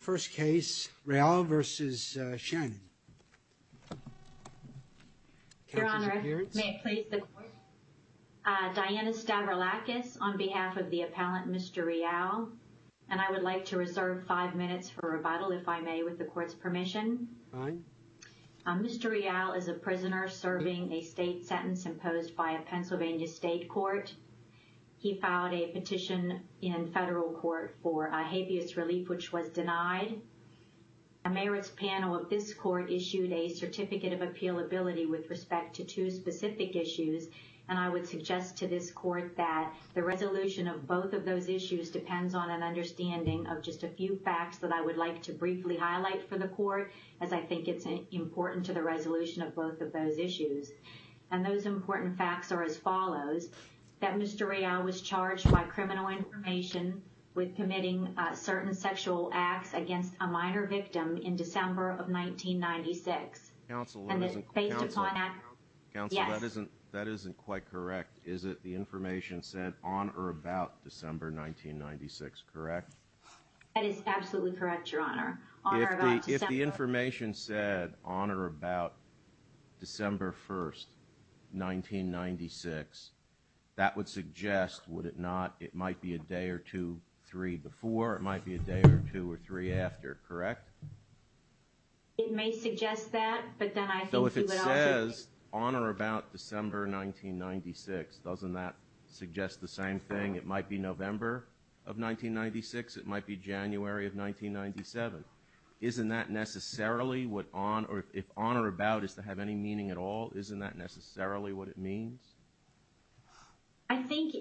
First case, Reallo v. Shannon. Your Honor, may it please the Court? Diana Stavroulakis on behalf of the appellant Mr. Reallo. And I would like to reserve five minutes for rebuttal, if I may, with the Court's permission. Mr. Reallo is a prisoner serving a state sentence imposed by a Pennsylvania state court. He filed a petition in federal court for habeas relief, which was denied. The merits panel of this court issued a certificate of appealability with respect to two specific issues. And I would suggest to this Court that the resolution of both of those issues depends on an understanding of just a few facts that I would like to briefly highlight for the Court, as I think it's important to the resolution of both of those issues. And those important facts are as follows. That Mr. Reallo was charged by criminal information with committing certain sexual acts against a minor victim in December of 1996. Based upon that, yes. Counsel, that isn't quite correct. Is it the information sent on or about December 1996, correct? That is absolutely correct, Your Honor. If the information said on or about December 1st, 1996, that would suggest, would it not, it might be a day or two, three before, or it might be a day or two or three after, correct? It may suggest that, but then I think you would all agree. So if it says on or about December 1996, doesn't that suggest the same thing? It might be November of 1996, it might be January of 1997. Isn't that necessarily what, if on or about is to have any meaning at all, isn't that necessarily what it means? I think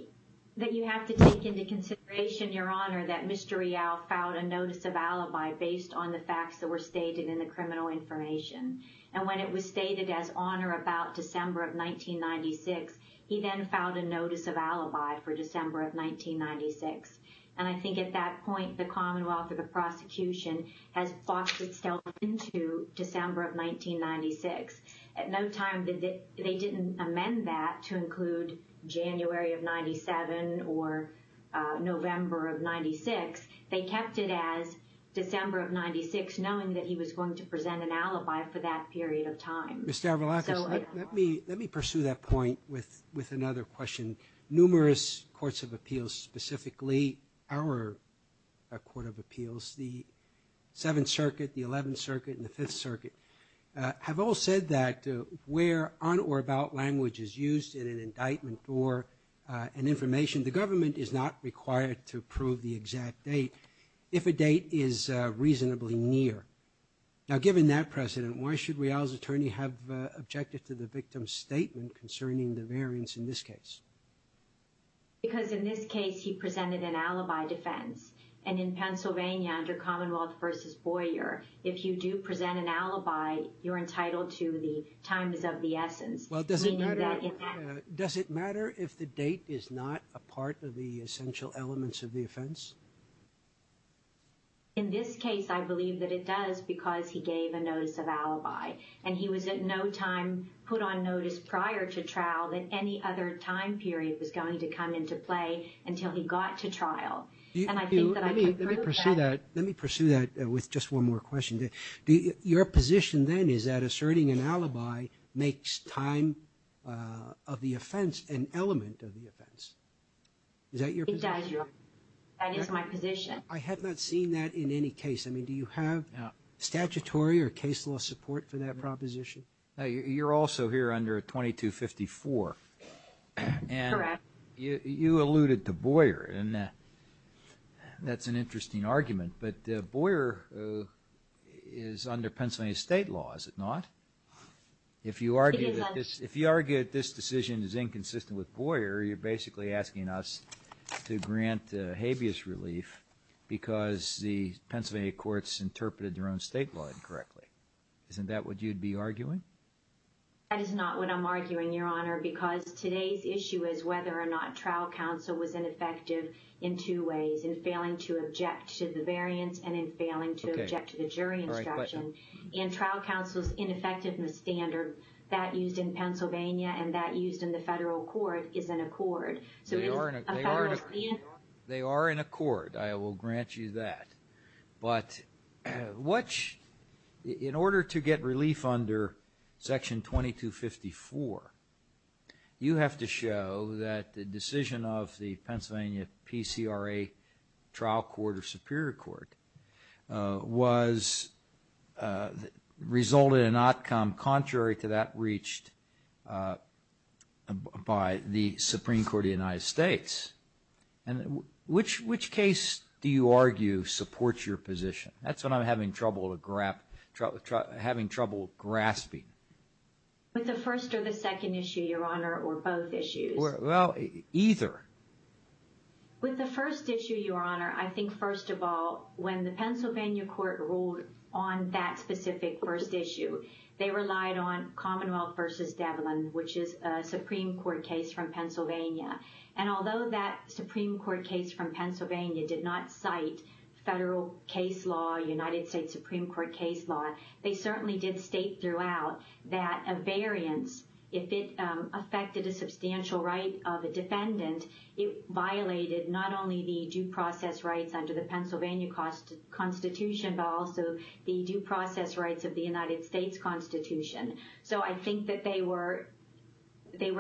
that you have to take into consideration, Your Honor, that Mr. Reallo filed a notice of alibi based on the facts that were stated in the criminal information. And when it was stated as on or about December of 1996, he then filed a notice of alibi for December of 1996. And I think at that point, the Commonwealth or the prosecution has boxed itself into December of 1996. At no time did they, they didn't amend that to include January of 97 or November of 96. They kept it as December of 96, knowing that he was going to present an alibi for that period of time. Mr. Avrilakis, let me pursue that point with another question. Numerous courts of appeals, specifically our court of appeals, the Seventh Circuit, the Eleventh Circuit, and the Fifth Circuit, have all said that where on or about language is used in an indictment or an information, the government is not required to prove the exact date if a date is reasonably near. Now, given that precedent, why should Reallo's attorney have objected to the victim's statement concerning the variance in this case? Because in this case, he presented an alibi defense. And in Pennsylvania, under Commonwealth v. Boyer, if you do present an alibi, you're entitled to the times of the essence. Well, does it matter if the date is not a part of the essential elements of the offense? In this case, I believe that it does because he gave a notice of alibi. And he was at no time put on notice prior to trial that any other time period was going to come into play until he got to trial. And I think that I can prove that. Let me pursue that with just one more question. Your position then is that asserting an alibi makes time of the offense an element of the offense. Is that your position? It does. That is my position. I have not seen that in any case. I mean, do you have statutory or case law support for that proposition? You're also here under 2254. Correct. You alluded to Boyer, and that's an interesting argument. But Boyer is under Pennsylvania state law, is it not? If you argue that this decision is inconsistent with Boyer, you're basically asking us to grant habeas relief because the Pennsylvania courts interpreted their own state law incorrectly. Isn't that what you'd be arguing? That is not what I'm arguing, Your Honor, because today's issue is whether or not trial counsel was ineffective in two ways, in failing to object to the variance and in failing to object to the jury instruction. In trial counsel's ineffectiveness standard, that used in Pennsylvania and that used in the federal court is an accord. They are an accord. I will grant you that. But in order to get relief under section 2254, you have to show that the decision of the Pennsylvania PCRA trial court or superior court resulted in an outcome contrary to that reached by the Supreme Court of the United States. And which case do you argue supports your position? That's what I'm having trouble grasping. With the first or the second issue, Your Honor, or both issues? Well, either. With the first issue, Your Honor, I think, first of all, when the Pennsylvania court ruled on that specific first issue, they relied on Commonwealth v. Devlin, which is a Supreme Court case from Pennsylvania. And although that Supreme Court case from Pennsylvania did not cite federal case law, United States Supreme Court case law, they certainly did state throughout that a variance, if it affected a substantial right of a defendant, it violated not only the due process rights under the Pennsylvania Constitution, but also the due process rights of the United States Constitution. So I think that they were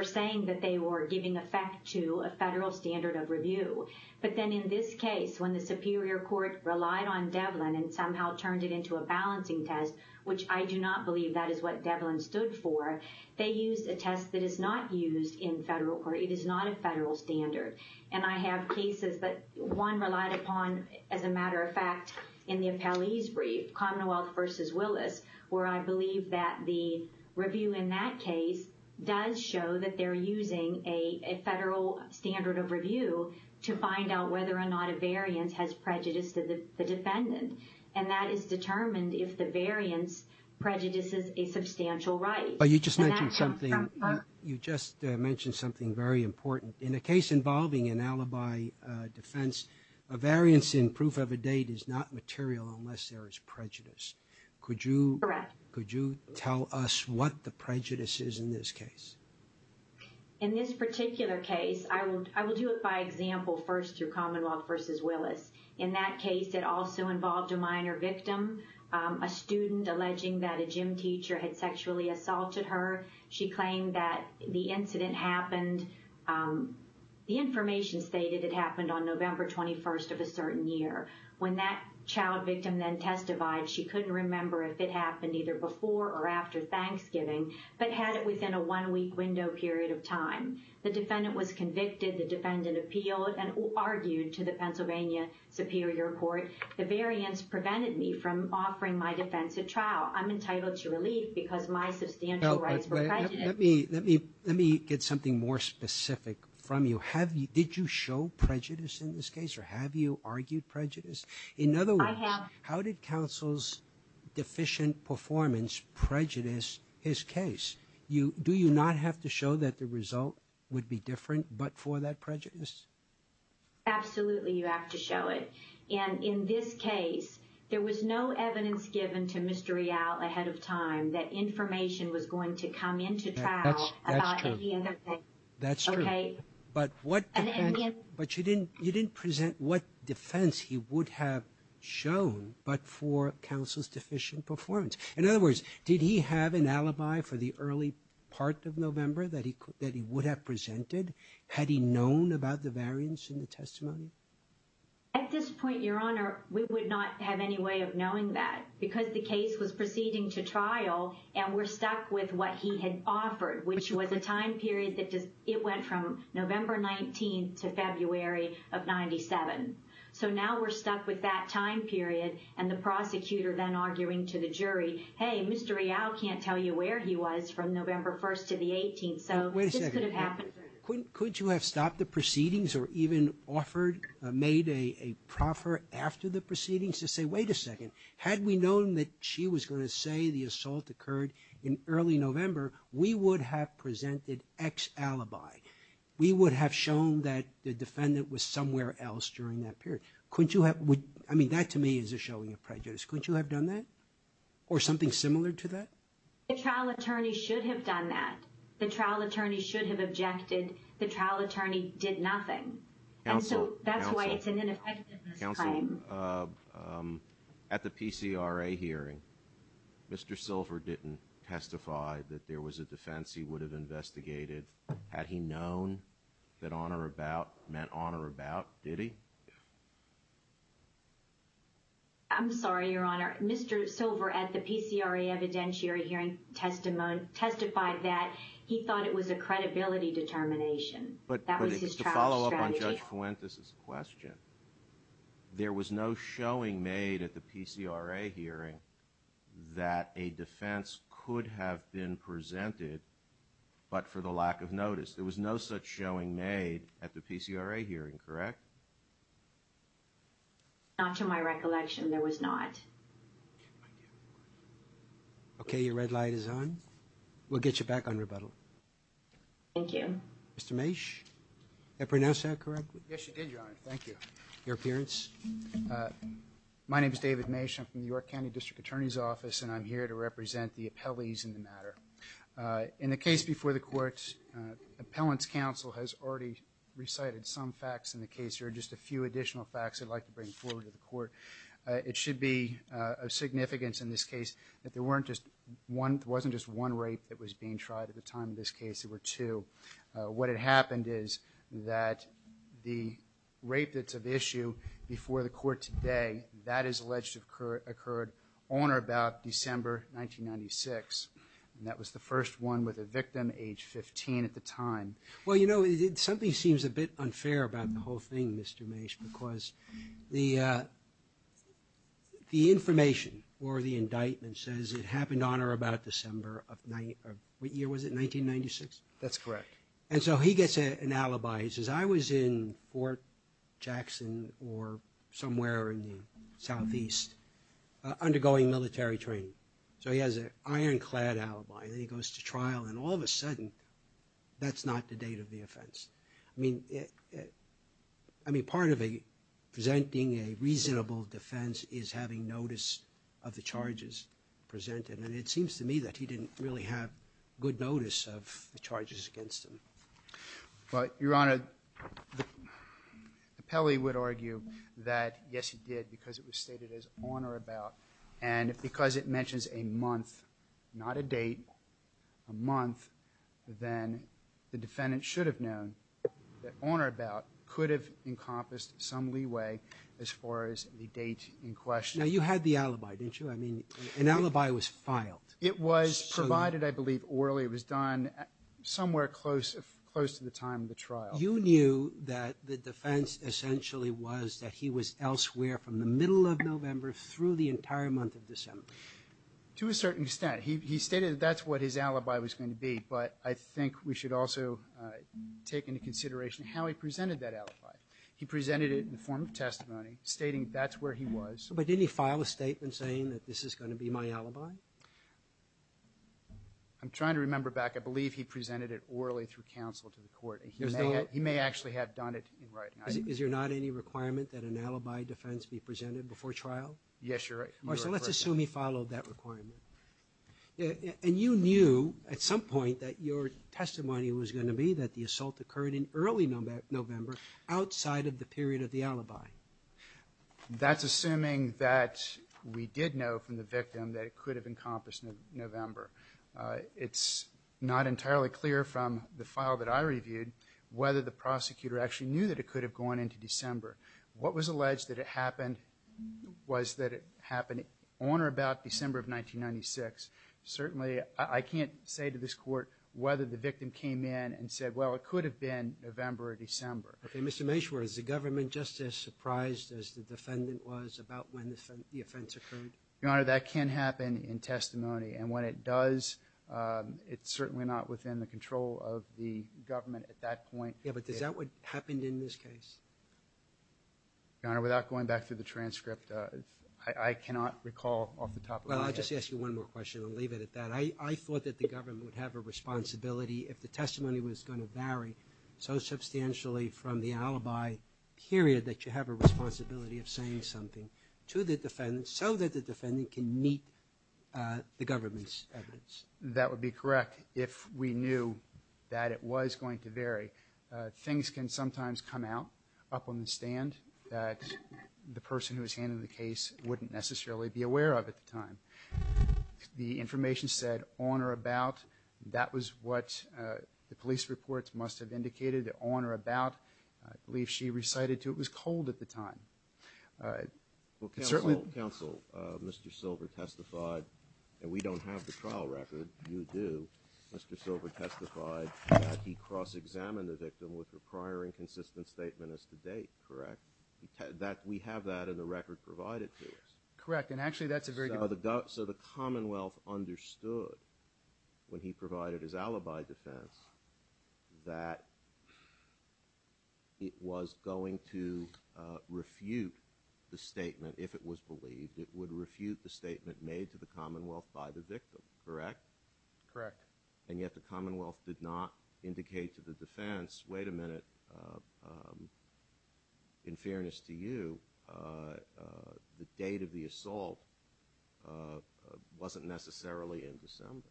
saying that they were giving effect to a federal standard of review. But then in this case, when the superior court relied on Devlin and somehow turned it into a balancing test, which I do not believe that is what Devlin stood for, they used a test that is not used in federal or it is not a federal standard. And I have cases that one relied upon, as a matter of fact, in the appellee's brief, Commonwealth v. Willis, where I believe that the review in that case does show that they're using a federal standard of review to find out whether or not a variance has prejudiced the defendant. And that is determined if the variance prejudices a substantial right. But you just mentioned something. You just mentioned something very important. In a case involving an alibi defense, a variance in proof of a date is not material unless there is prejudice. Could you tell us what the prejudice is in this case? In this particular case, I will do it by example first through Commonwealth v. Willis. In that case, it also involved a minor victim, a student alleging that a gym teacher had sexually assaulted her. She claimed that the incident happened, the information stated it happened on November 21st of a certain year. When that child victim then testified, she couldn't remember if it happened either before or after Thanksgiving, but had it within a one-week window period of time. The defendant was convicted. The defendant appealed and argued to the Pennsylvania Superior Court. The variance prevented me from offering my defense at trial. I'm entitled to relief because my substantial rights were prejudiced. Let me get something more specific from you. Did you show prejudice in this case, or have you argued prejudice? In other words, how did counsel's deficient performance prejudice his case? Do you not have to show that the result would be different but for that prejudice? Absolutely, you have to show it. And in this case, there was no evidence given to Mr. Rialt ahead of time that information was going to come into trial about any other thing. That's true. But you didn't present what defense he would have shown but for counsel's deficient performance. In other words, did he have an alibi for the early part of November that he would have presented? Had he known about the variance in the testimony? At this point, Your Honor, we would not have any way of knowing that because the case was proceeding to trial and we're stuck with what he had offered, which was a time period that it went from November 19th to February of 97. So now we're stuck with that time period and the prosecutor then arguing to the jury, hey, Mr. Rialt can't tell you where he was from November 1st to the 18th, so this could have happened. Wait a second. Could you have stopped the proceedings or even offered, made a proffer after the proceedings to say, wait a second, had we known that she was going to say the assault occurred in early November, we would have presented X alibi. We would have shown that the defendant was somewhere else during that period. I mean, that to me is a showing of prejudice. Couldn't you have done that or something similar to that? The trial attorney should have done that. The trial attorney should have objected. The trial attorney did nothing. And so that's why it's an ineffectiveness claim. At the PCR hearing, Mr. Silver didn't testify that there was a defense. He would have investigated. Had he known that honor about meant honor about Didi. I'm sorry, Your Honor. Mr. Silver at the PCR evidentiary hearing testimony testified that he thought it was a credibility determination. But that was just to follow up on Judge Fuentes's question. There was no showing made at the PCR hearing that a defense could have been presented. But for the lack of notice, there was no such showing made at the PCR hearing. Correct. Not to my recollection, there was not. Okay, your red light is on. We'll get you back on rebuttal. Thank you. Mr. Mase. Did I pronounce that correctly? Yes, you did, Your Honor. Thank you. Your appearance. My name is David Mase. I'm from the York County District Attorney's Office, and I'm here to represent the appellees in the matter. In the case before the court, appellant's counsel has already recited some facts in the case. There are just a few additional facts I'd like to bring forward to the court. It should be of significance in this case that there wasn't just one rape that was being tried at the time of this case. There were two. What had happened is that the rape that's of issue before the court today, that is alleged to have occurred on or about December 1996. And that was the first one with a victim age 15 at the time. Well, you know, something seems a bit unfair about the whole thing, Mr. Mase, because the information or the indictment says it happened on or about December of – what year was it, 1996? That's correct. And so he gets an alibi. He says, I was in Fort Jackson or somewhere in the southeast undergoing military training. So he has an ironclad alibi. Then he goes to trial. And all of a sudden, that's not the date of the offense. I mean, part of presenting a reasonable defense is having notice of the charges presented. And it seems to me that he didn't really have good notice of the charges against him. Well, Your Honor, the appellee would argue that, yes, he did, because it was stated as on or about. And because it mentions a month, not a date, a month, then the defendant should have known that on or about could have encompassed some leeway as far as the date in question. Now, you had the alibi, didn't you? I mean, an alibi was filed. It was provided, I believe, orally. It was done somewhere close to the time of the trial. You knew that the defense essentially was that he was elsewhere from the middle of November through the entire month of December. To a certain extent. He stated that that's what his alibi was going to be. But I think we should also take into consideration how he presented that alibi. He presented it in the form of testimony, stating that's where he was. But didn't he file a statement saying that this is going to be my alibi? I'm trying to remember back. I believe he presented it orally through counsel to the court. He may actually have done it in writing. Is there not any requirement that an alibi defense be presented before trial? Yes, you're right. All right, so let's assume he followed that requirement. And you knew at some point that your testimony was going to be that the assault occurred in early November outside of the period of the alibi. That's assuming that we did know from the victim that it could have encompassed November. It's not entirely clear from the file that I reviewed whether the prosecutor actually knew that it could have gone into December. What was alleged that it happened was that it happened on or about December of 1996. Certainly, I can't say to this court whether the victim came in and said, well, it could have been November or December. Okay, Mr. Meshwar, is the government just as surprised as the defendant was about when the offense occurred? Your Honor, that can happen in testimony. And when it does, it's certainly not within the control of the government at that point. Yeah, but is that what happened in this case? Your Honor, without going back through the transcript, I cannot recall off the top of my head. Well, I'll just ask you one more question. I'll leave it at that. I thought that the government would have a responsibility if the testimony was going to vary so substantially from the alibi period that you have a responsibility of saying something to the defendant so that the defendant can meet the government's evidence. That would be correct if we knew that it was going to vary. Things can sometimes come out up on the stand that the person who was handling the case wouldn't necessarily be aware of at the time. The information said on or about. That was what the police reports must have indicated, on or about. I believe she recited to it was cold at the time. Well, counsel, Mr. Silver testified, and we don't have the trial record. You do. Mr. Silver testified that he cross-examined the victim with her prior inconsistent statement as to date, correct? We have that in the record provided for us. Correct, and actually that's a very good point. So the Commonwealth understood when he provided his alibi defense that it was going to refute the statement if it was believed. It would refute the statement made to the Commonwealth by the victim, correct? Correct. And yet the Commonwealth did not indicate to the defense, wait a minute, in fairness to you, the date of the assault wasn't necessarily in December.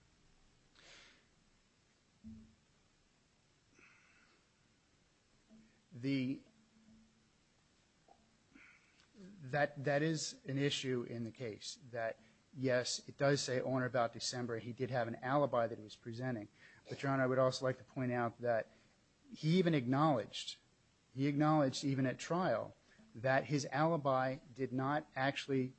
That is an issue in the case that, yes, it does say on or about December. He did have an alibi that he was presenting. But, John, I would also like to point out that he even acknowledged, he acknowledged even at trial that his alibi did not actually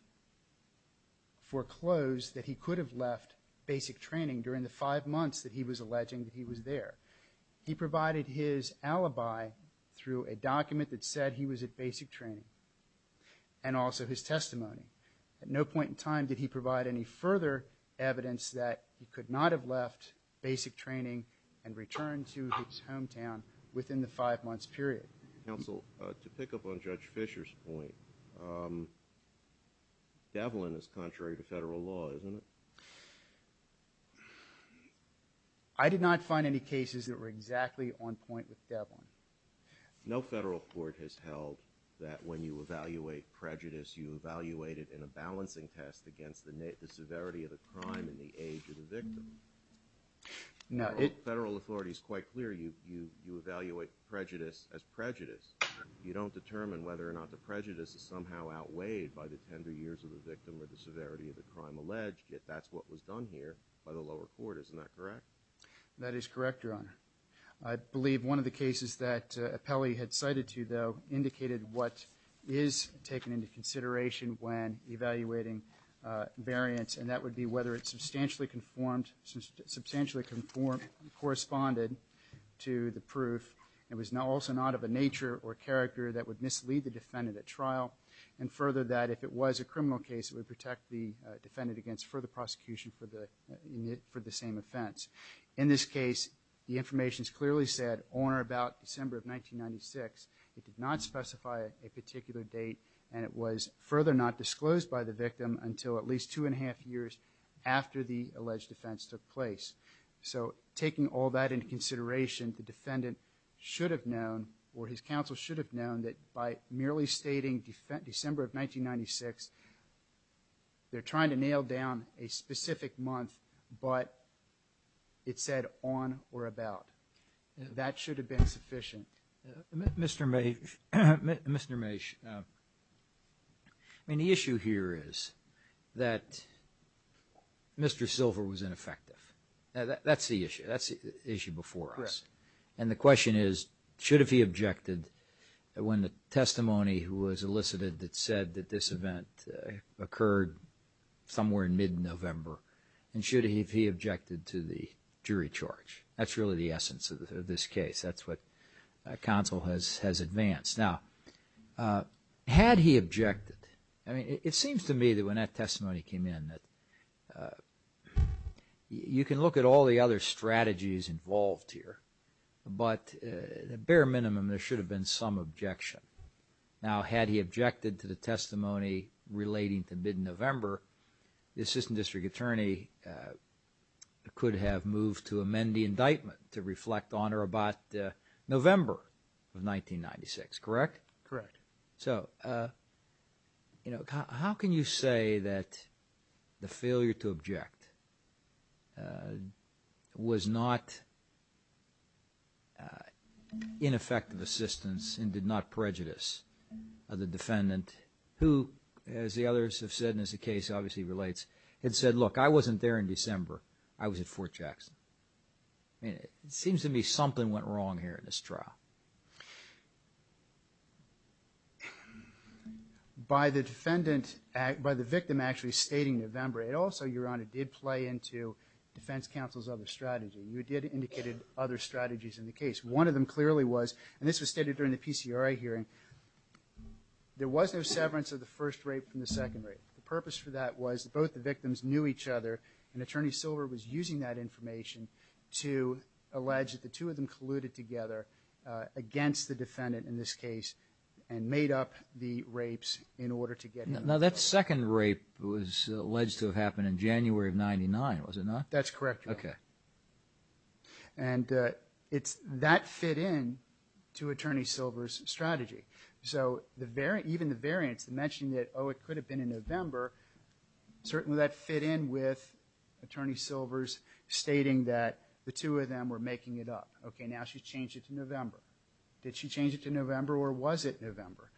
foreclose that he could have left basic training during the five months that he was alleging that he was there. He provided his alibi through a document that said he was at basic training and also his testimony. At no point in time did he provide any further evidence that he could not have left basic training and returned to his hometown within the five months period. Counsel, to pick up on Judge Fisher's point, Devlin is contrary to federal law, isn't it? I did not find any cases that were exactly on point with Devlin. No federal court has held that when you evaluate prejudice, you evaluate it in a balancing test against the severity of the crime and the age of the victim. Federal authority is quite clear. You evaluate prejudice as prejudice. You don't determine whether or not the prejudice is somehow outweighed by the tender years of the victim or the severity of the crime alleged, yet that's what was done here by the lower court. Isn't that correct? That is correct, Your Honor. I believe one of the cases that Appelli had cited to you, though, indicated what is taken into consideration when evaluating variance, and that would be whether it substantially conformed and corresponded to the proof. It was also not of a nature or character that would mislead the defendant at trial, and further that if it was a criminal case, it would protect the defendant against further prosecution for the same offense. In this case, the information is clearly set on or about December of 1996. It did not specify a particular date, and it was further not disclosed by the victim until at least two and a half years after the alleged offense took place. So taking all that into consideration, the defendant should have known, or his counsel should have known that by merely stating December of 1996, they're trying to nail down a specific month, but it said on or about. That should have been sufficient. Mr. Maysh, I mean, the issue here is that Mr. Silver was ineffective. That's the issue. That's the issue before us. And the question is, should have he objected when the testimony was elicited that said that this event occurred somewhere in mid-November, and should he have he objected to the jury charge? That's really the essence of this case. That's what counsel has advanced. Now, had he objected, I mean, it seems to me that when that testimony came in that you can look at all the other strategies involved here, but at the bare minimum, there should have been some objection. Now, had he objected to the testimony relating to mid-November, the assistant district attorney could have moved to amend the indictment to reflect on or about November of 1996, correct? Correct. So, you know, how can you say that the failure to object was not ineffective assistance and did not prejudice the defendant who, as the others have said, and as the case obviously relates, had said, look, I wasn't there in December. I was at Fort Jackson. I mean, it seems to me something went wrong here in this trial. By the victim actually stating November, it also, Your Honor, did play into defense counsel's other strategy. You did indicate other strategies in the case. One of them clearly was, and this was stated during the PCRA hearing, there was no severance of the first rape from the second rape. The purpose for that was both the victims knew each other, and Attorney Silver was using that information to allege that the two of them colluded together against the defendant in this case and made up the rapes in order to get him. Now, that second rape was alleged to have happened in January of 1999, was it not? That's correct, Your Honor. Okay. And that fit in to Attorney Silver's strategy. So even the variance, the mentioning that, oh, it could have been in November, certainly that fit in with Attorney Silver's stating that the two of them were making it up. Okay, now she's changed it to November. Did she change it to November or was it November?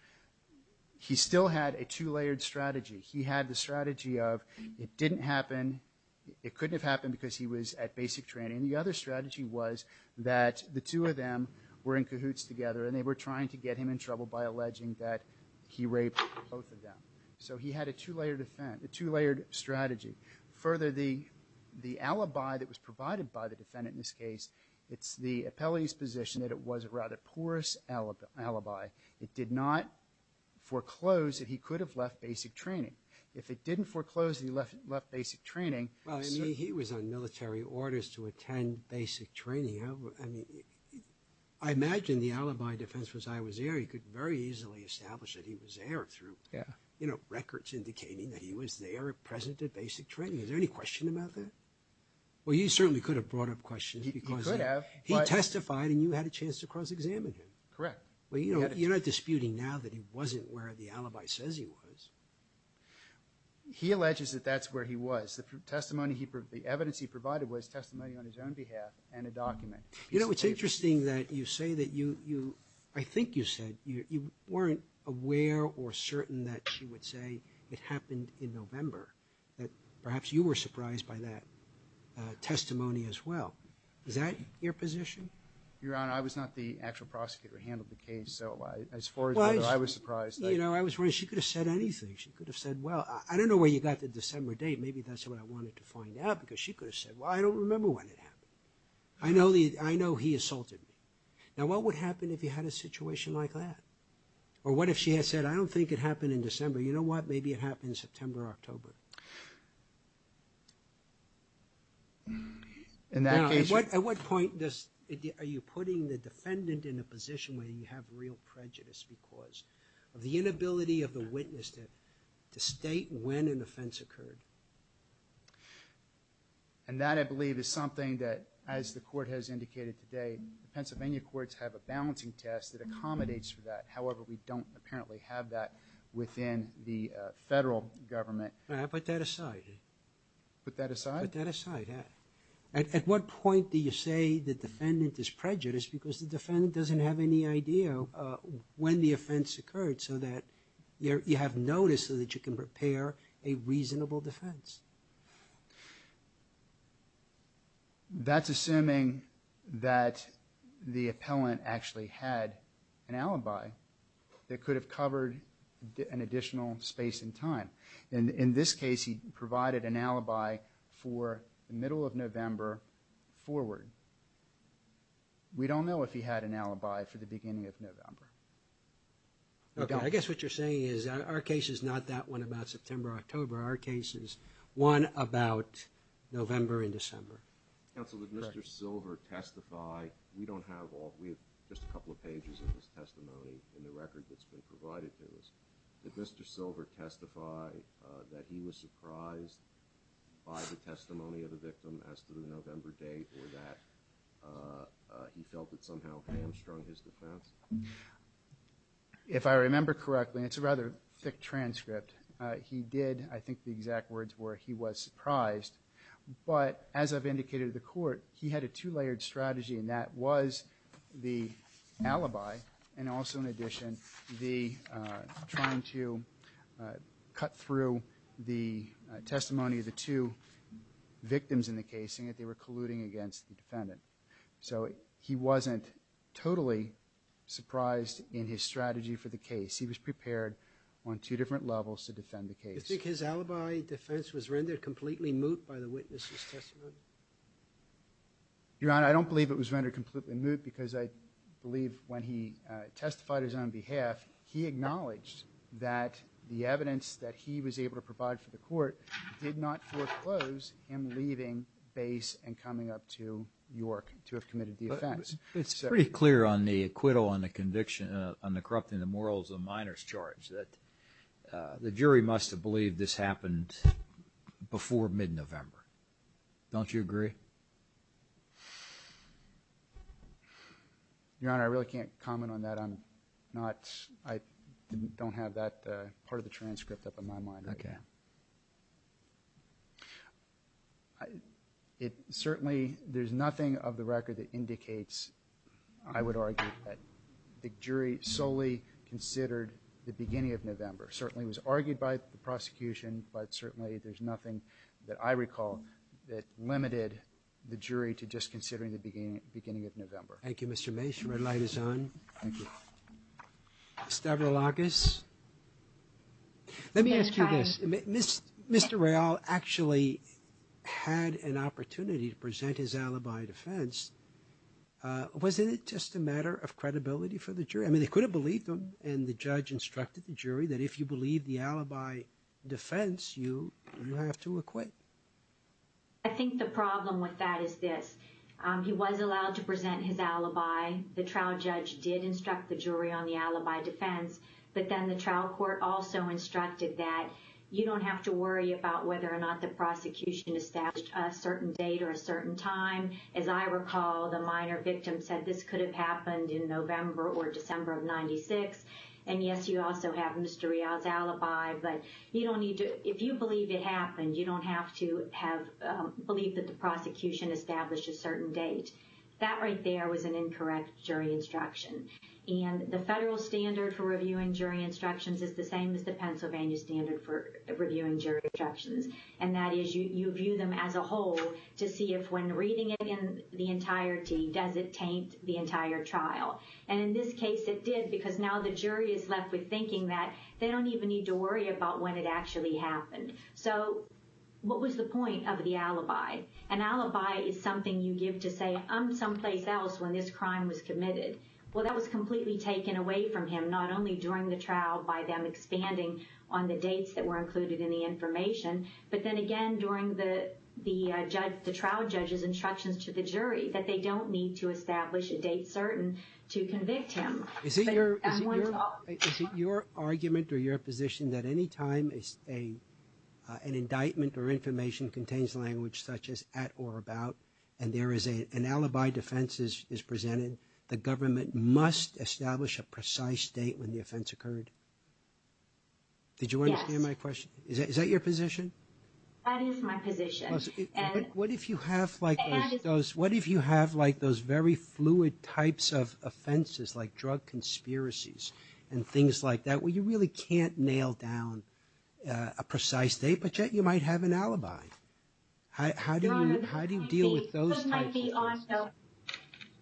He still had a two-layered strategy. He had the strategy of it didn't happen, it couldn't have happened because he was at basic training. And the other strategy was that the two of them were in cahoots together and they were trying to get him in trouble by alleging that he raped both of them. So he had a two-layered strategy. Further, the alibi that was provided by the defendant in this case, it's the appellee's position that it was a rather porous alibi. It did not foreclose that he could have left basic training. If it didn't foreclose that he left basic training – And basic training, I mean, I imagine the alibi defense was I was there, he could very easily establish that he was there through, you know, records indicating that he was there at present at basic training. Is there any question about that? Well, you certainly could have brought up questions because he testified and you had a chance to cross-examine him. Correct. Well, you're not disputing now that he wasn't where the alibi says he was. He alleges that that's where he was. The evidence he provided was testimony on his own behalf and a document. You know, it's interesting that you say that you – I think you said you weren't aware or certain that she would say it happened in November, that perhaps you were surprised by that testimony as well. Is that your position? Your Honor, I was not the actual prosecutor who handled the case, so as far as whether I was surprised, I – Well, you know, I was wondering. She could have said anything. She could have said, well, I don't know where you got the December date. Maybe that's what I wanted to find out because she could have said, well, I don't remember when it happened. I know the – I know he assaulted me. Now, what would happen if you had a situation like that? Or what if she had said, I don't think it happened in December. You know what? Maybe it happened in September or October. In that case – Now, at what point does – are you putting the defendant in a position where you have real prejudice because of the inability of the witness to state when an offense occurred? And that, I believe, is something that, as the Court has indicated today, the Pennsylvania courts have a balancing test that accommodates for that. However, we don't apparently have that within the federal government. Put that aside. Put that aside? Put that aside, yeah. At what point do you say the defendant is prejudiced because the defendant doesn't have any idea when the offense occurred so that you have notice so that you can prepare a reasonable defense? That's assuming that the appellant actually had an alibi that could have covered an additional space in time. In this case, he provided an alibi for the middle of November forward. We don't know if he had an alibi for the beginning of November. Okay. I guess what you're saying is our case is not that one about September or October. Our case is one about November and December. Counsel, did Mr. Silver testify? We don't have all – we have just a couple of pages of his testimony in the record that's been provided to us. Did Mr. Silver testify that he was surprised by the testimony of the victim as to the November date or that he felt it somehow hamstrung his defense? If I remember correctly, and it's a rather thick transcript, he did – I think the exact words were he was surprised. But as I've indicated to the court, he had a two-layered strategy, and that was the alibi and also, in addition, the trying to cut through the testimony of the two victims in the case saying that they were colluding against the defendant. So he wasn't totally surprised in his strategy for the case. He was prepared on two different levels to defend the case. Do you think his alibi defense was rendered completely moot by the witness's testimony? Your Honor, I don't believe it was rendered completely moot because I believe when he testified his own behalf, he acknowledged that the evidence that he was able to provide for the court did not foreclose him leaving base and coming up to York to have committed the offense. But it's pretty clear on the acquittal on the conviction on the corrupting the morals of minors charge that the jury must have believed this happened before mid-November. Don't you agree? Your Honor, I really can't comment on that. I don't have that part of the transcript up in my mind right now. Okay. Certainly, there's nothing of the record that indicates, I would argue, that the jury solely considered the beginning of November. Certainly, it was argued by the prosecution, but certainly there's nothing that I recall that limited the jury to just considering the beginning of November. Thank you, Mr. Mason. The red light is on. Thank you. Ms. Debra Lagas. Let me ask you this. Mr. Real actually had an opportunity to present his alibi defense. Wasn't it just a matter of credibility for the jury? I mean, they could have believed him, and the judge instructed the jury, that if you believe the alibi defense, you have to acquit. I think the problem with that is this. He was allowed to present his alibi. The trial judge did instruct the jury on the alibi defense, but then the trial court also instructed that you don't have to worry about whether or not the prosecution established a certain date or a certain time. As I recall, the minor victim said this could have happened in November or December of 1996, and, yes, you also have Mr. Real's alibi, but if you believe it happened, you don't have to believe that the prosecution established a certain date. That right there was an incorrect jury instruction, and the federal standard for reviewing jury instructions is the same as the Pennsylvania standard for reviewing jury instructions, and that is you view them as a whole to see if when reading it in the entirety, does it taint the entire trial, and in this case it did, because now the jury is left with thinking that they don't even need to worry about when it actually happened. So what was the point of the alibi? An alibi is something you give to say, I'm someplace else when this crime was committed. Well, that was completely taken away from him, not only during the trial by them expanding on the dates that were included in the information, but then again during the trial judge's instructions to the jury that they don't need to establish a date certain to convict him. Is it your argument or your position that any time an indictment or information contains language such as at or about, and there is an alibi defense is presented, the government must establish a precise date when the offense occurred? Did you understand my question? Yes. Is that your position? That is my position. What if you have like those very fluid types of offenses like drug conspiracies and things like that where you really can't nail down a precise date, but yet you might have an alibi? How do you deal with those types of offenses?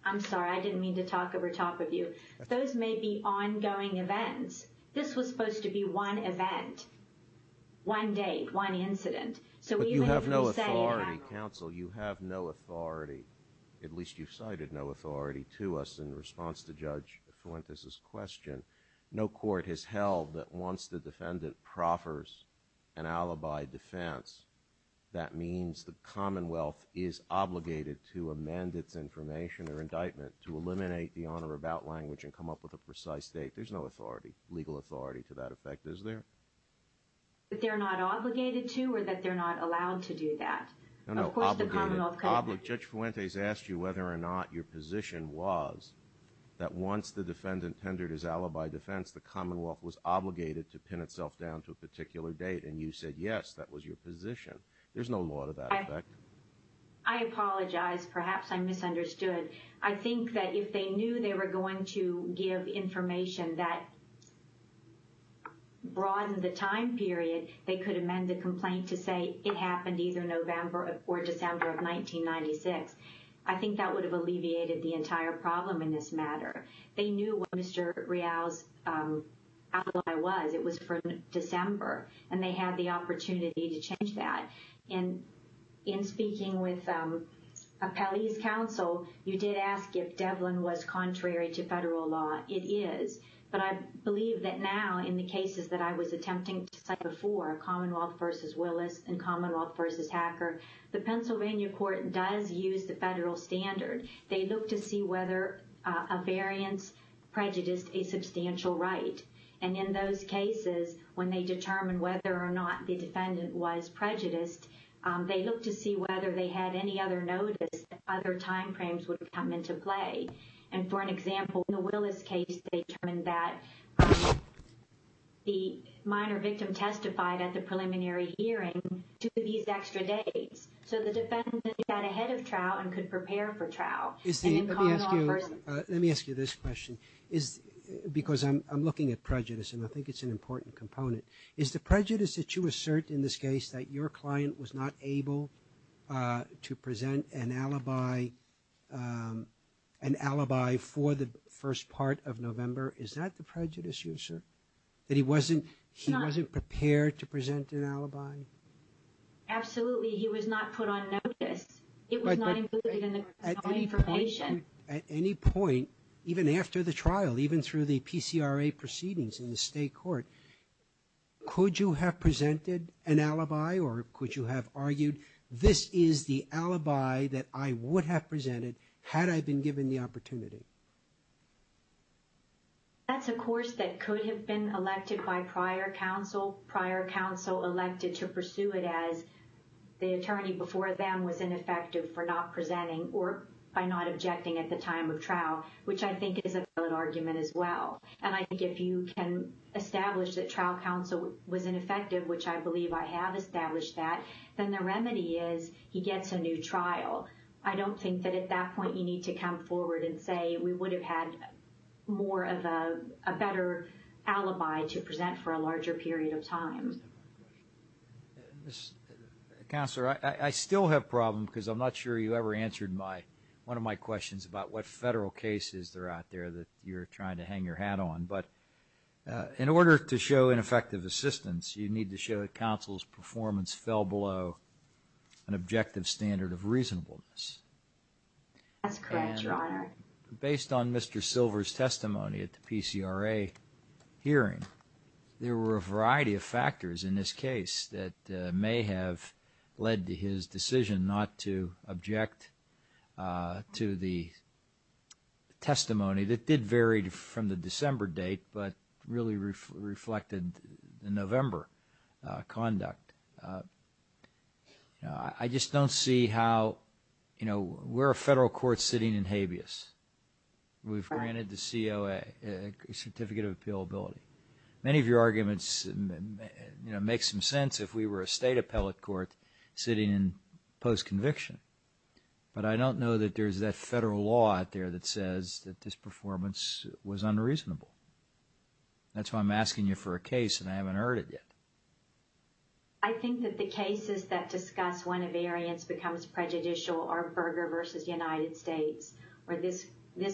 I'm sorry. I didn't mean to talk over top of you. Those may be ongoing events. This was supposed to be one event, one date, one incident. But you have no authority, counsel. You have no authority. At least you've cited no authority to us in response to Judge Fuentes' question. No court has held that once the defendant proffers an alibi defense, that means the Commonwealth is obligated to amend its information or indictment to eliminate the on or about language and come up with a precise date. There's no authority, legal authority to that effect, is there? That they're not obligated to or that they're not allowed to do that? No, no, obligated. Judge Fuentes asked you whether or not your position was that once the defendant tendered his alibi defense, the Commonwealth was obligated to pin itself down to a particular date, and you said yes, that was your position. There's no law to that effect. I apologize. Perhaps I misunderstood. I think that if they knew they were going to give information that broadened the time period, they could amend the complaint to say it happened either November or December of 1996. I think that would have alleviated the entire problem in this matter. They knew what Mr. Real's alibi was. It was from December, and they had the opportunity to change that. And in speaking with Appellee's Counsel, you did ask if Devlin was contrary to federal law. It is. But I believe that now in the cases that I was attempting to cite before, Commonwealth v. Willis and Commonwealth v. Hacker, the Pennsylvania court does use the federal standard. They look to see whether a variance prejudiced a substantial right. And in those cases, when they determine whether or not the defendant was prejudiced, they look to see whether they had any other notice that other time frames would come into play. And for an example, in the Willis case, they determined that the minor victim testified at the preliminary hearing to these extra dates. So the defendant got ahead of Trow and could prepare for Trow. Let me ask you this question, because I'm looking at prejudice, and I think it's an important component. Is the prejudice that you assert in this case that your client was not able to present an alibi for the first part of November, is that the prejudice you assert? That he wasn't prepared to present an alibi? Absolutely. He was not put on notice. It was not included in the criminal information. At any point, even after the trial, even through the PCRA proceedings in the state court, could you have presented an alibi or could you have argued, this is the alibi that I would have presented had I been given the opportunity? That's a course that could have been elected by prior counsel. They were also elected to pursue it as the attorney before them was ineffective for not presenting or by not objecting at the time of Trow, which I think is a valid argument as well. And I think if you can establish that trial counsel was ineffective, which I believe I have established that, then the remedy is he gets a new trial. I don't think that at that point you need to come forward and say, we would have had more of a better alibi to present for a larger period of time. Counselor, I still have a problem because I'm not sure you ever answered one of my questions about what federal cases there are out there that you're trying to hang your hat on. But in order to show ineffective assistance, you need to show that counsel's performance fell below an objective standard of reasonableness. That's correct, Your Honor. Based on Mr. Silver's testimony at the PCRA hearing, there were a variety of factors in this case that may have led to his decision not to object to the testimony that did vary from the December date but really reflected the November conduct. I just don't see how, you know, we're a federal court sitting in habeas. We've granted the COA a certificate of appealability. Many of your arguments make some sense if we were a state appellate court sitting in post-conviction. But I don't know that there's that federal law out there that says that this performance was unreasonable. That's why I'm asking you for a case and I haven't heard it yet. I think that the cases that discuss when a variance becomes prejudicial are Berger v. United States or this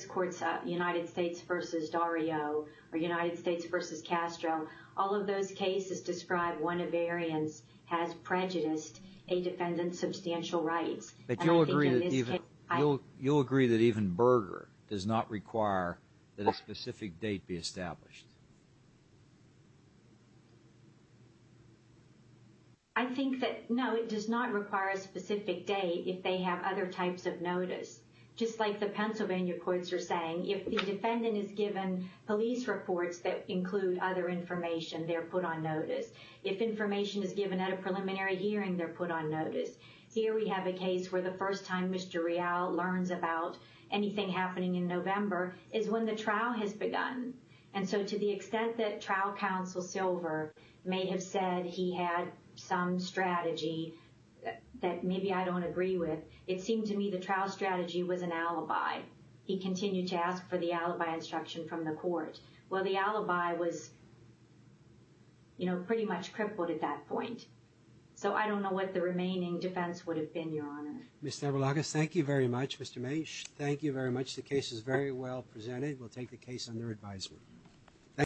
court's United States v. Dario or United States v. Castro. All of those cases describe when a variance has prejudiced a defendant's substantial rights. But you'll agree that even Berger does not require that a specific date be established? I think that, no, it does not require a specific date if they have other types of notice. Just like the Pennsylvania courts are saying, if the defendant is given police reports that include other information, they're put on notice. If information is given at a preliminary hearing, they're put on notice. Here we have a case where the first time Mr. Real learns about anything happening in November is when the trial has begun. And so to the extent that trial counsel Silver may have said he had some strategy that maybe I don't agree with, it seemed to me the trial strategy was an alibi. He continued to ask for the alibi instruction from the court. Well, the alibi was, you know, pretty much crippled at that point. So I don't know what the remaining defense would have been, Your Honor. Ms. Zabalagas, thank you very much. Mr. Mache, thank you very much. The case is very well presented. We'll take the case under advisory.